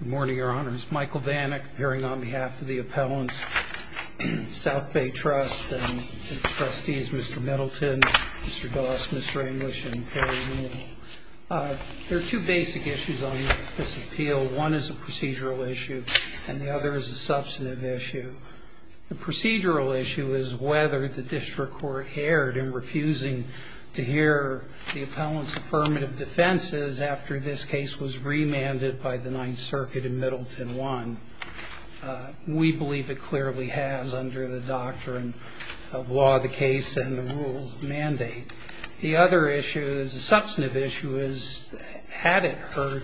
Good morning, your honors. Michael Vanik, appearing on behalf of the Appellant's South Bay Trust and its trustees, Mr. Middleton, Mr. Doss, Ms. Raimlich, and Gary Neal. There are two basic issues on this appeal. One is a procedural issue, and the other is a substantive issue. The procedural issue is whether the district court erred in refusing to hear the Appellant's affirmative defenses after this case was remanded by the Ninth Circuit in Middleton 1. We believe it clearly has under the doctrine of law of the case and the rules mandate. The other issue is a substantive issue, is had it heard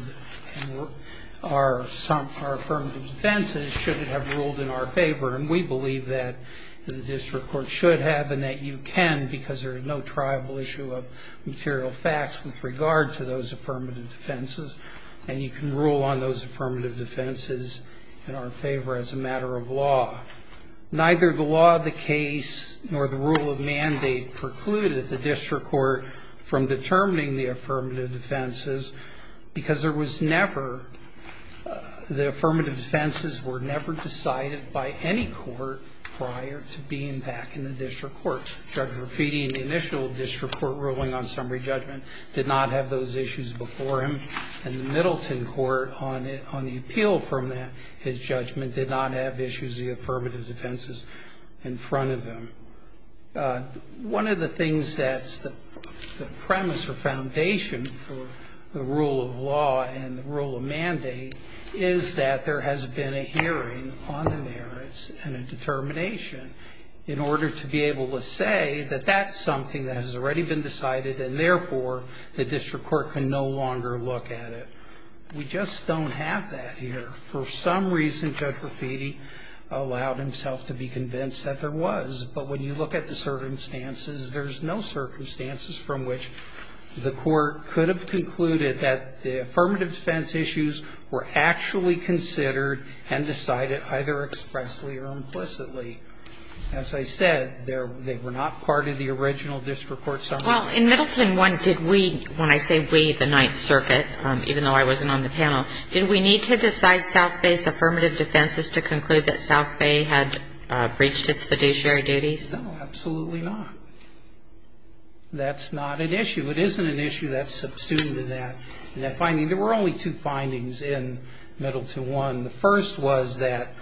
our affirmative defenses, should it have ruled in our favor? And we believe that the district court should have and that you can, because there is no triable issue of material facts with regard to those affirmative defenses, and you can rule on those affirmative defenses in our favor as a matter of law. Neither the law of the case nor the rule of mandate precluded the district court from determining the affirmative defenses, because there was never the affirmative defenses were never decided by any court prior to being back in the district court. Judge Rapitti in the initial district court ruling on summary judgment did not have those issues before him, and the Middleton court on the appeal from his judgment did not have issues, the affirmative defenses, in front of him. One of the things that's the premise or foundation for the rule of law and the rule of mandate is that there has been a hearing on the merits and a determination in order to be able to say that that's something that has already been decided and therefore the district court can no longer look at it. We just don't have that here. For some reason, Judge Rapitti allowed himself to be convinced that there was. But when you look at the circumstances, there's no circumstances from which the court could have concluded that the affirmative defense issues were actually considered and decided either expressly or implicitly. As I said, they were not part of the original district court summary. Well, in Middleton 1, did we, when I say we, the Ninth Circuit, even though I wasn't on the panel, did we need to decide South Bay's affirmative defenses to conclude that South Bay had breached its fiduciary duties? No, absolutely not. That's not an issue. It isn't an issue that's subsumed in that finding. There were only two findings in Middleton 1. The first was that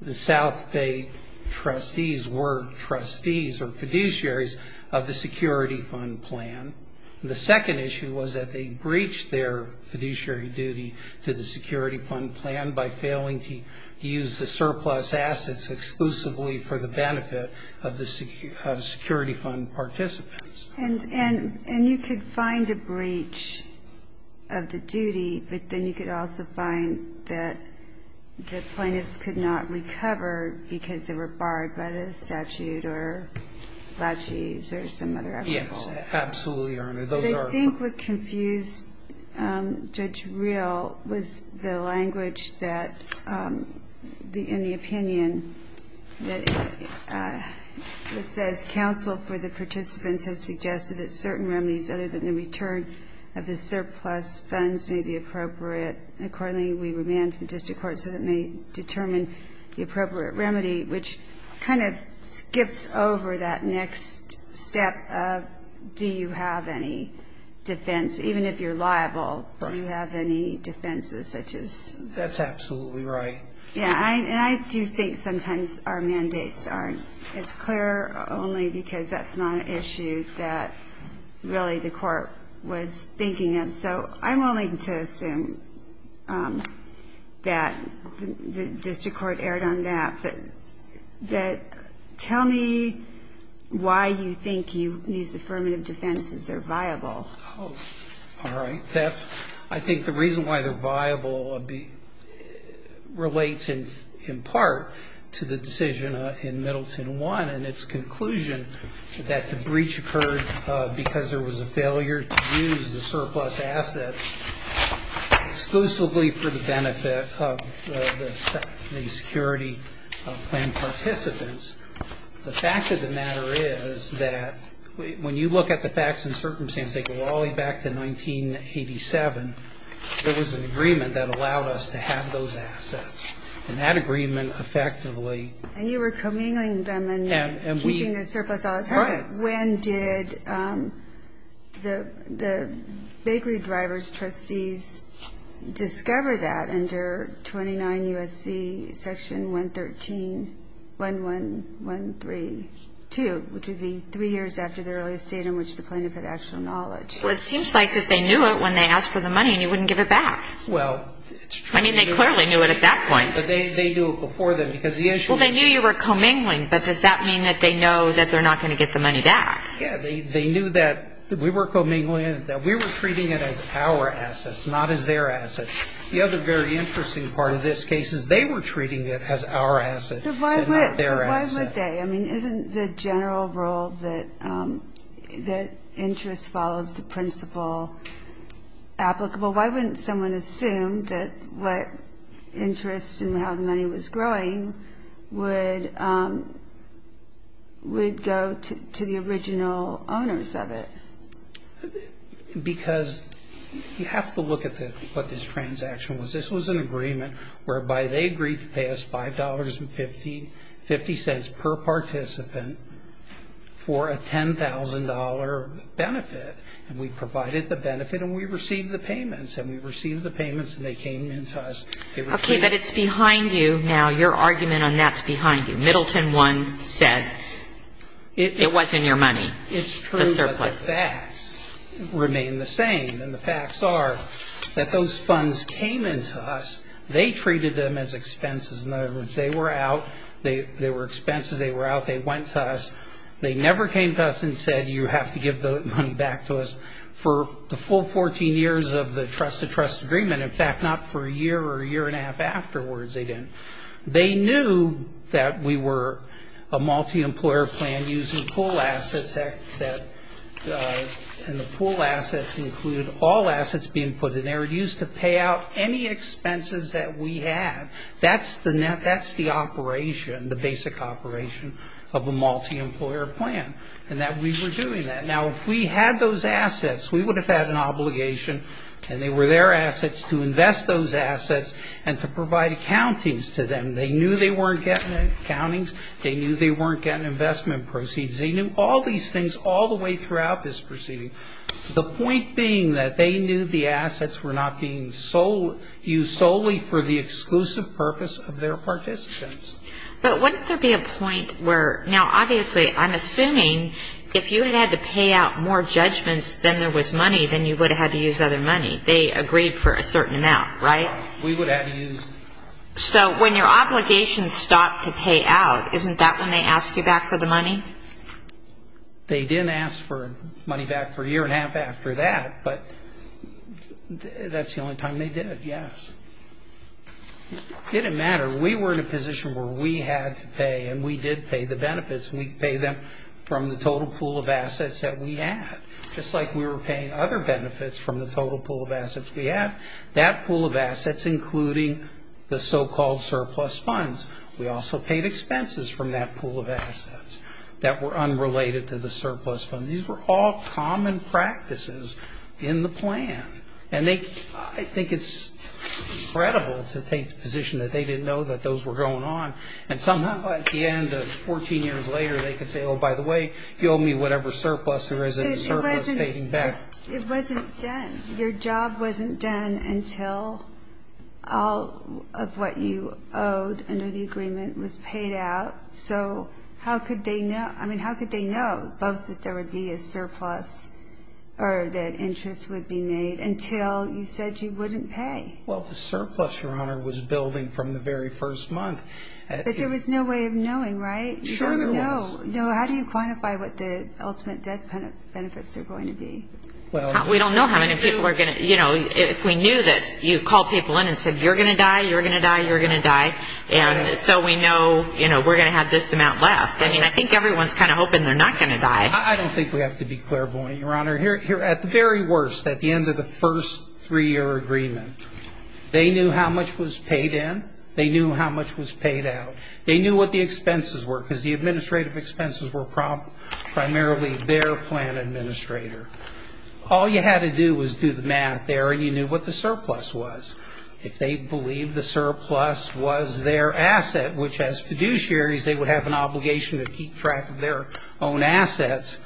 the South Bay trustees were trustees or fiduciaries of the security fund plan. The second issue was that they breached their fiduciary duty to the security fund plan by failing to use the surplus assets exclusively for the benefit of the security fund participants. And you could find a breach of the duty, but then you could also find that the plaintiffs could not recover because they were barred by the statute or Blatches or some other application. Yes, absolutely, Your Honor. Those are a part of it. But I think what confused Judge Reell was the language that, in the opinion, that says counsel for the participants has suggested that certain remedies other than the return of the surplus funds may be appropriate. Accordingly, we remand to the district court so that may determine the appropriate remedy, which kind of skips over that next step of do you have any defense, even if you're liable, do you have any defenses such as. That's absolutely right. Yeah, and I do think sometimes our mandates aren't as clear only because that's not an issue that really the court was thinking of. So I'm willing to assume that the district court erred on that. But tell me why you think these affirmative defenses are viable. Oh, all right. That's, I think, the reason why they're viable relates in part to the decision in Middleton 1 and its conclusion that the breach occurred because there was a failure to use the surplus assets exclusively for the benefit of the security of plain participants. The fact of the matter is that when you look at the facts and circumstances, they go all the way back to 1987. There was an agreement that allowed us to have those assets. And that agreement effectively. And you were commingling them and keeping the surplus all the time. Right. When did the bakery drivers' trustees discover that under 29 U.S.C. section 113, 11132, which would be three years after the earliest date in which the plaintiff had actual knowledge? Well, it seems like that they knew it when they asked for the money, and you wouldn't give it back. Well, it's true. I mean, they clearly knew it at that point. But they knew it before then. Well, they knew you were commingling. But does that mean that they know that they're not going to get the money back? Yeah. They knew that we were commingling, that we were treating it as our assets, not as their assets. The other very interesting part of this case is they were treating it as our assets and not their assets. Why would they? I mean, isn't the general rule that interest follows the principle applicable? Why wouldn't someone assume that what interest and how the money was growing would go to the original owners of it? Because you have to look at what this transaction was. This was an agreement whereby they agreed to pay us $5.50 per participant for a $10,000 benefit. And we provided the benefit, and we received the payments. And we received the payments, and they came into us. Okay, but it's behind you now. Your argument on that's behind you. Middleton 1 said it wasn't your money, the surplus. It's true, but the facts remain the same. And the facts are that those funds came into us. They treated them as expenses. In other words, they were out. They were expenses. They were out. They went to us. They never came to us and said you have to give the money back to us for the full 14 years of the trust-to-trust agreement. In fact, not for a year or a year and a half afterwards they didn't. They knew that we were a multi-employer plan using pool assets, and the pool assets included all assets being put in. They were used to pay out any expenses that we had. That's the operation, the basic operation of a multi-employer plan, and that we were doing that. Now, if we had those assets, we would have had an obligation, and they were their assets, to invest those assets and to provide accountings to them. They knew they weren't getting accountings. They knew they weren't getting investment proceeds. They knew all these things all the way throughout this proceeding. The point being that they knew the assets were not being used solely for the exclusive purpose of their participants. But wouldn't there be a point where now, obviously, I'm assuming if you had to pay out more judgments than there was money, then you would have had to use other money. They agreed for a certain amount, right? We would have used. So when your obligations stop to pay out, isn't that when they ask you back for the money? They didn't ask for money back for a year and a half after that, but that's the only time they did, yes. It didn't matter. We were in a position where we had to pay, and we did pay the benefits. We paid them from the total pool of assets that we had, just like we were paying other benefits from the total pool of assets we had. That pool of assets, including the so-called surplus funds, we also paid expenses from that pool of assets that were unrelated to the surplus funds. These were all common practices in the plan. And I think it's credible to take the position that they didn't know that those were going on, and somehow at the end of 14 years later they could say, oh, by the way, you owe me whatever surplus there is in the surplus paying back. It wasn't done. Your job wasn't done until all of what you owed under the agreement was paid out. So how could they know? I mean, how could they know both that there would be a surplus or that interest would be made until you said you wouldn't pay? Well, the surplus, Your Honor, was building from the very first month. But there was no way of knowing, right? Sure there was. No. How do you quantify what the ultimate debt benefits are going to be? We don't know how many people are going to, you know, if we knew that you called people in and said you're going to die, you're going to die, you're going to die, and so we know we're going to have this amount left. I mean, I think everyone's kind of hoping they're not going to die. I don't think we have to be clairvoyant, Your Honor. At the very worst, at the end of the first three-year agreement, they knew how much was paid in, they knew how much was paid out. They knew what the expenses were because the administrative expenses were primarily their plan administrator. All you had to do was do the math there and you knew what the surplus was. If they believed the surplus was their asset, which as fiduciaries, they would have an obligation to keep track of their own assets,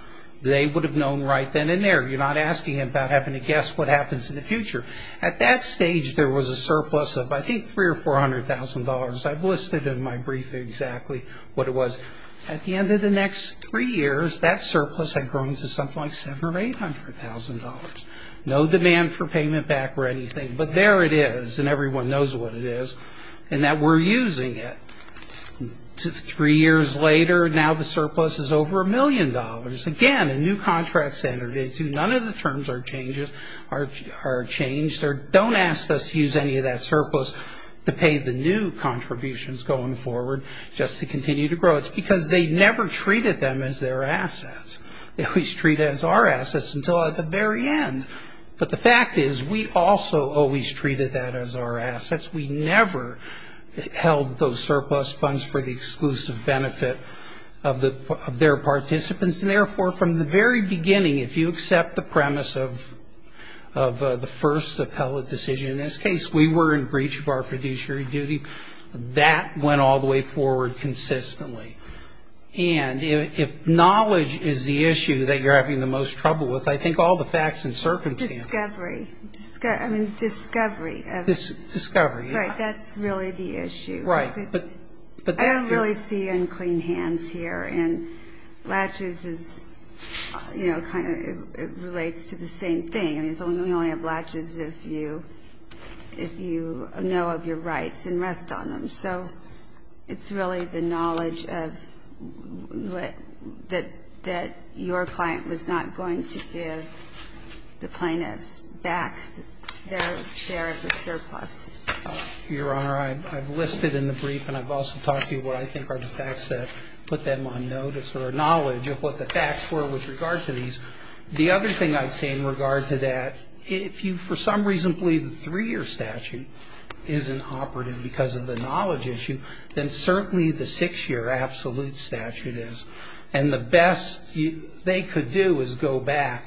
they would have known right then and there. You're not asking them about having to guess what happens in the future. At that stage, there was a surplus of I think $300,000 or $400,000. I've listed in my brief exactly what it was. At the end of the next three years, that surplus had grown to something like $700,000 or $800,000. No demand for payment back or anything, but there it is, and everyone knows what it is and that we're using it. Three years later, now the surplus is over $1 million. Again, a new contract standard. None of the terms are changed or don't ask us to use any of that surplus to pay the new contributions going forward just to continue to grow. It's because they never treated them as their assets. They always treat it as our assets until the very end, but the fact is we also always treated that as our assets. We never held those surplus funds for the exclusive benefit of their participants, and therefore from the very beginning, if you accept the premise of the first appellate decision in this case, we were in breach of our fiduciary duty. That went all the way forward consistently, and if knowledge is the issue that you're having the most trouble with, I think all the facts and circumstances. It's discovery. I mean, discovery. Discovery. Right. That's really the issue. Right. I don't really see you in clean hands here, and latches is, you know, kind of relates to the same thing. I mean, we only have latches if you know of your rights and rest on them. So it's really the knowledge that your client was not going to give the plaintiffs back their share of the surplus. Your Honor, I've listed in the brief, and I've also talked to you what I think are the facts that put them on notice or knowledge of what the facts were with regard to these. The other thing I'd say in regard to that, if you for some reason believe the three-year statute isn't operative because of the knowledge issue, then certainly the six-year absolute statute is, and the best they could do is go back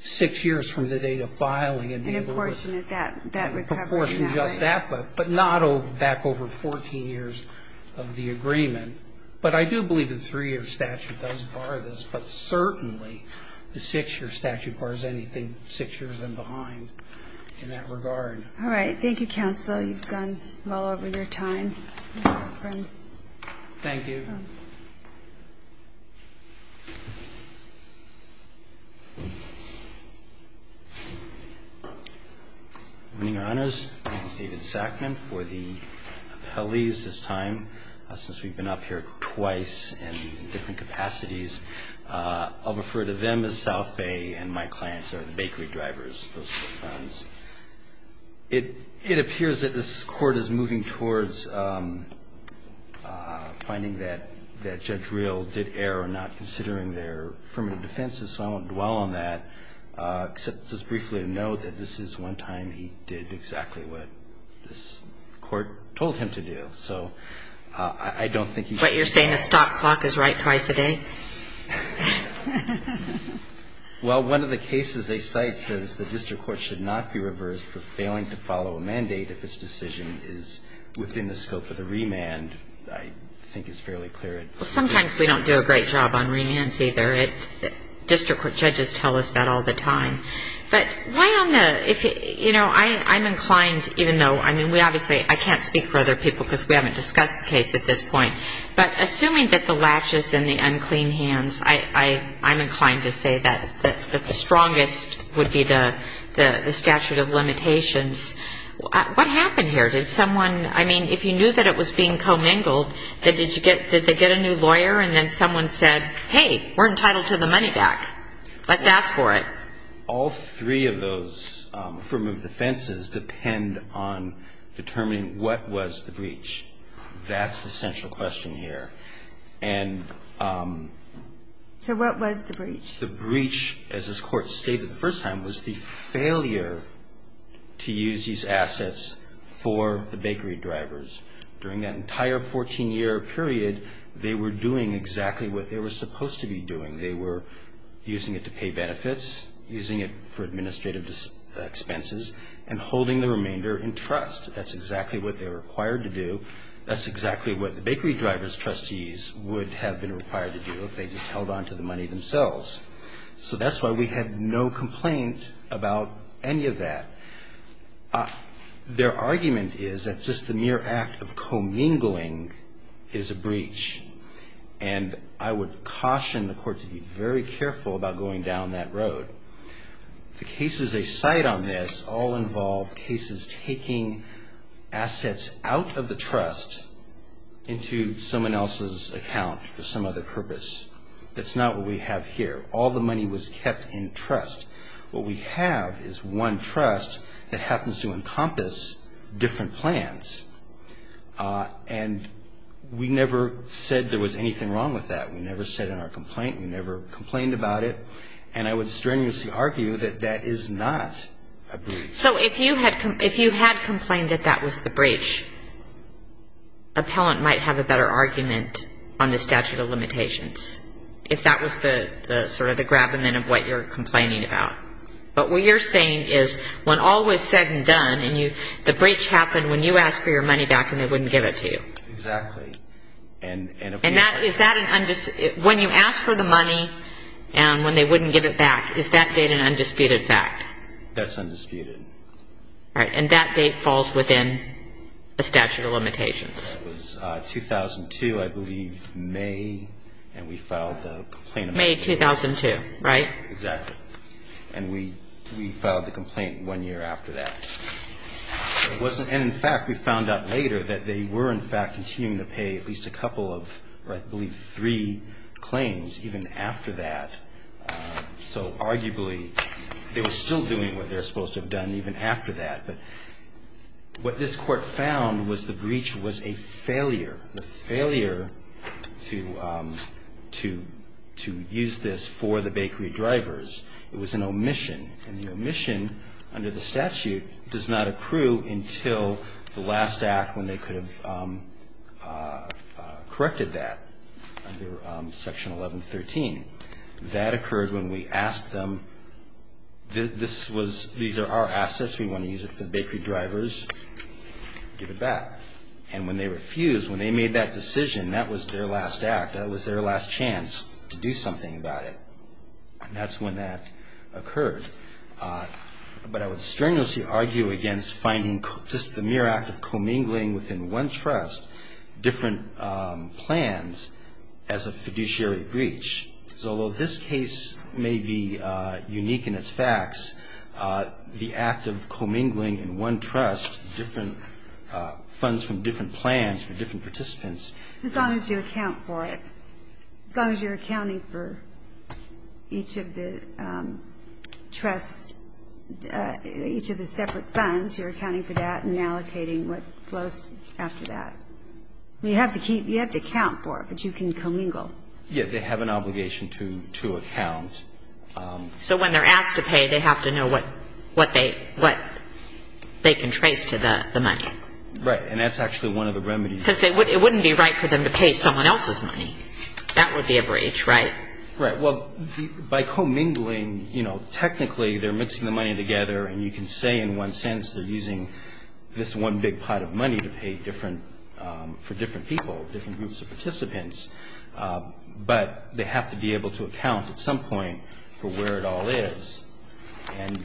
six years from the date of filing. And apportion that recovery. Apportion just that, but not back over 14 years of the agreement. But I do believe the three-year statute does bar this, but certainly the six-year statute bars anything six years and behind in that regard. All right. Thank you, counsel. You've gone well over your time. Thank you. Good morning, Your Honors. My name is David Sackman. For the appellees this time, since we've been up here twice in different capacities, I'll refer to them as South Bay and my clients are the bakery drivers. Those are the friends. It appears that this Court is moving towards finding that Judge Reel did err or not considering their affirmative defenses, so I won't dwell on that, except just briefly to note that this is one time he did exactly what this Court told him to do. So I don't think he should be held to account. What, you're saying the stop clock is right twice a day? Well, one of the cases they cite says the district court should not be reversed for failing to follow a mandate if its decision is within the scope of the remand, I think is fairly clear. Well, sometimes we don't do a great job on remands either. District court judges tell us that all the time. But why on the – you know, I'm inclined, even though – I mean, we obviously I can't speak for other people because we haven't discussed the case at this point. But assuming that the latches and the unclean hands, I'm inclined to say that the strongest would be the statute of limitations. What happened here? Did someone – I mean, if you knew that it was being commingled, did they get a new lawyer and then someone said, hey, we're entitled to the money back. Let's ask for it. All three of those affirmative defenses depend on determining what was the breach. That's the central question here. And – So what was the breach? The breach, as this Court stated the first time, was the failure to use these assets for the bakery drivers. During that entire 14-year period, they were doing exactly what they were supposed to be doing. They were using it to pay benefits, using it for administrative expenses, and holding the remainder in trust. That's exactly what they were required to do. That's exactly what the bakery drivers' trustees would have been required to do if they just held on to the money themselves. So that's why we had no complaint about any of that. Their argument is that just the mere act of commingling is a breach. And I would caution the Court to be very careful about going down that road. The cases they cite on this all involve cases taking assets out of the trust into someone else's account for some other purpose. That's not what we have here. All the money was kept in trust. What we have is one trust that happens to encompass different plans. And we never said there was anything wrong with that. We never said in our complaint. We never complained about it. And I would strenuously argue that that is not a breach. So if you had complained that that was the breach, an appellant might have a better argument on the statute of limitations, if that was sort of the gravamen of what you're complaining about. But what you're saying is when all was said and done, and the breach happened when you asked for your money back and they wouldn't give it to you. Exactly. And when you ask for the money and when they wouldn't give it back, is that date an undisputed fact? That's undisputed. All right. And that date falls within the statute of limitations. It was 2002, I believe, May, and we filed the complaint. May 2002, right? Exactly. And we filed the complaint one year after that. And, in fact, we found out later that they were, in fact, continuing to pay at least a couple of, or I believe three claims even after that. So arguably they were still doing what they were supposed to have done even after that. But what this court found was the breach was a failure, the failure to use this for the bakery drivers. It was an omission. And the omission under the statute does not accrue until the last act when they could have corrected that under Section 1113. That occurred when we asked them, these are our assets, we want to use it for the bakery drivers, give it back. And when they refused, when they made that decision, that was their last act. That was their last chance to do something about it. And that's when that occurred. But I would strenuously argue against finding just the mere act of commingling within one trust different plans as a fiduciary breach. Because although this case may be unique in its facts, the act of commingling in one trust different funds from different plans for different participants As long as you account for it. As long as you're accounting for each of the trusts, each of the separate funds, you're accounting for that and allocating what flows after that. You have to keep, you have to account for it, but you can commingle. Yeah. They have an obligation to account. So when they're asked to pay, they have to know what they can trace to the money. Right. And that's actually one of the remedies. Because it wouldn't be right for them to pay someone else's money. That would be a breach, right? Right. Well, by commingling, you know, technically they're mixing the money together and you can say in one sense they're using this one big pot of money to pay different for different people, different groups of participants. But they have to be able to account at some point for where it all is. And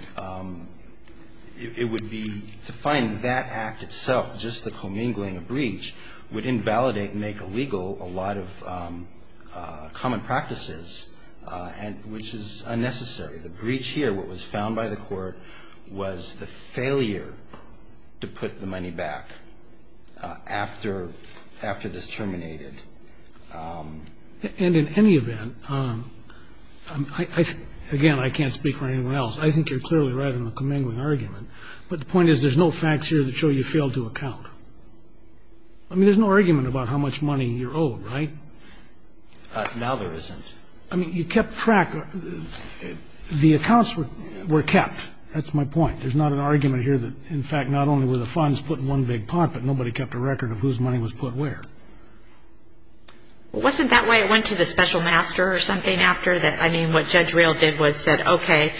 it would be to find that act itself, just the commingling of breach, would invalidate, make illegal a lot of common practices, which is unnecessary. The breach here, what was found by the court, was the failure to put the money back after this terminated. And in any event, again, I can't speak for anyone else, I think you're clearly right in the commingling argument. But the point is there's no facts here that show you failed to account. I mean, there's no argument about how much money you're owed, right? Now there isn't. I mean, you kept track. The accounts were kept. That's my point. There's not an argument here that, in fact, not only were the funds put in one big pot, but nobody kept a record of whose money was put where. Well, wasn't that why it went to the special master or something after that? I mean, what Judge Real did was said, okay,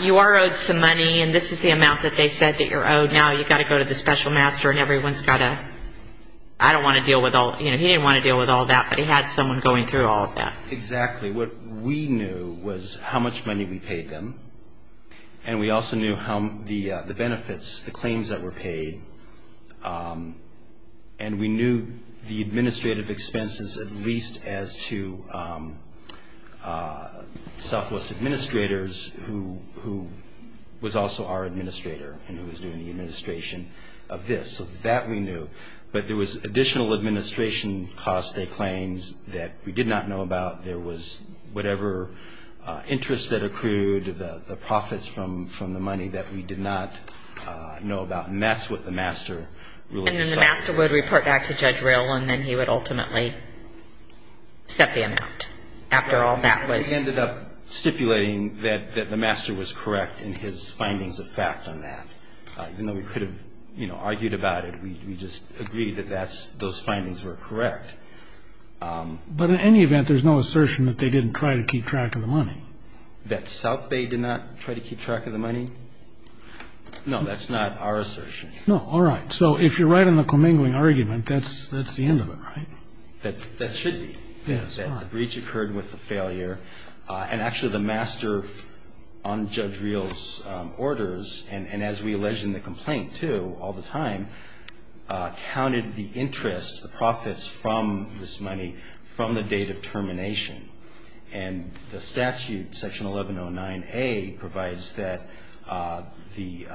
you are owed some money, and this is the amount that they said that you're owed. Now you've got to go to the special master, and everyone's got to, I don't want to deal with all, you know, he didn't want to deal with all that, but he had someone going through all of that. Exactly. What we knew was how much money we paid them, and we also knew how the benefits, the claims that were paid, and we knew the administrative expenses at least as to Southwest administrators, who was also our administrator and who was doing the administration of this. So that we knew. But there was additional administration costs they claimed that we did not know about. There was whatever interest that accrued, the profits from the money that we did not know about, and that's what the master really decided. And then the master would report back to Judge Real, and then he would ultimately set the amount after all that was. He ended up stipulating that the master was correct in his findings of fact on that. Even though we could have, you know, argued about it, we just agreed that those findings were correct. But in any event, there's no assertion that they didn't try to keep track of the money. That South Bay did not try to keep track of the money? No, that's not our assertion. No. All right. So if you're right in the commingling argument, that's the end of it, right? That should be. Yes. The breach occurred with the failure, and actually the master on Judge Real's orders, and as we alleged in the complaint, too, all the time, counted the interest, the profits from this money from the date of termination. And the statute, Section 1109A, provides that the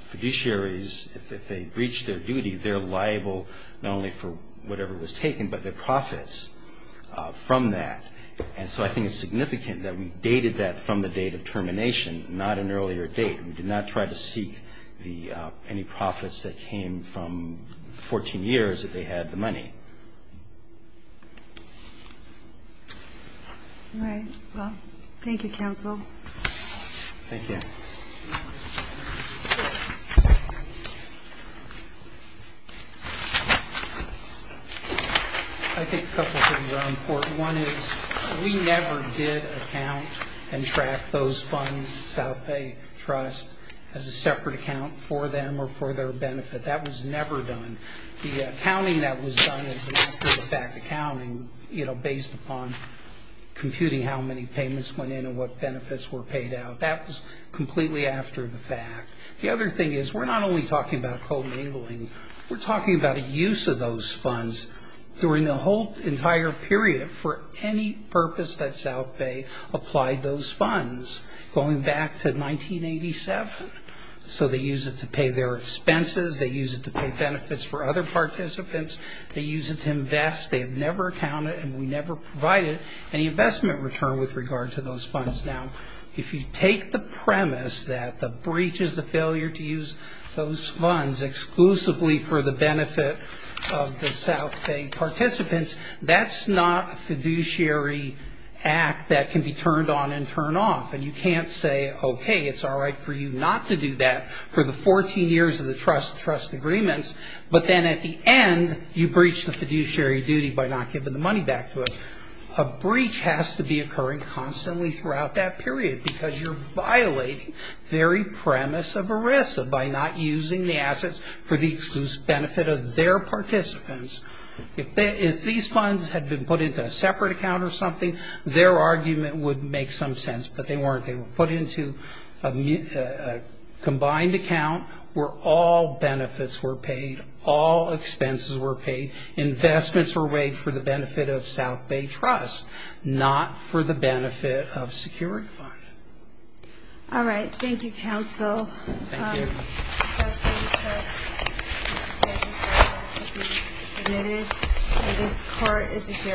fiduciaries, if they breach their duty, they're liable not only for whatever was taken, but their profits from that. And so I think it's significant that we dated that from the date of termination, not an earlier date. We did not try to seek any profits that came from 14 years that they had the money. All right. Well, thank you, counsel. Thank you. I think a couple of things are important. One is we never did account and track those funds, South Bay Trust, as a separate account for them or for their benefit. That was never done. The accounting that was done as an after-the-fact accounting, you know, based upon computing how many payments went in and what benefits were paid out, that was completely after-the-fact. The other thing is we're not only talking about co-enabling. We're talking about a use of those funds during the whole entire period for any purpose that South Bay applied those funds going back to 1987. So they use it to pay their expenses. They use it to pay benefits for other participants. They use it to invest. They have never accounted, and we never provided any investment return with regard to those funds. Now, if you take the premise that the breach is a failure to use those funds exclusively for the benefit of the South Bay participants, that's not a fiduciary act that can be turned on and turned off, and you can't say, okay, it's all right for you not to do that for the 14 years of the trust-to-trust agreements, but then at the end you breach the fiduciary duty by not giving the money back to us. A breach has to be occurring constantly throughout that period because you're violating the very premise of ERISA by not using the assets for the exclusive benefit of their participants. If these funds had been put into a separate account or something, their argument would make some sense, but they weren't. They were put into a combined account where all benefits were paid, all expenses were paid, investments were waived for the benefit of South Bay Trust, not for the benefit of security funds. All right. Thank you, counsel. Thank you. Thank you. Thank you.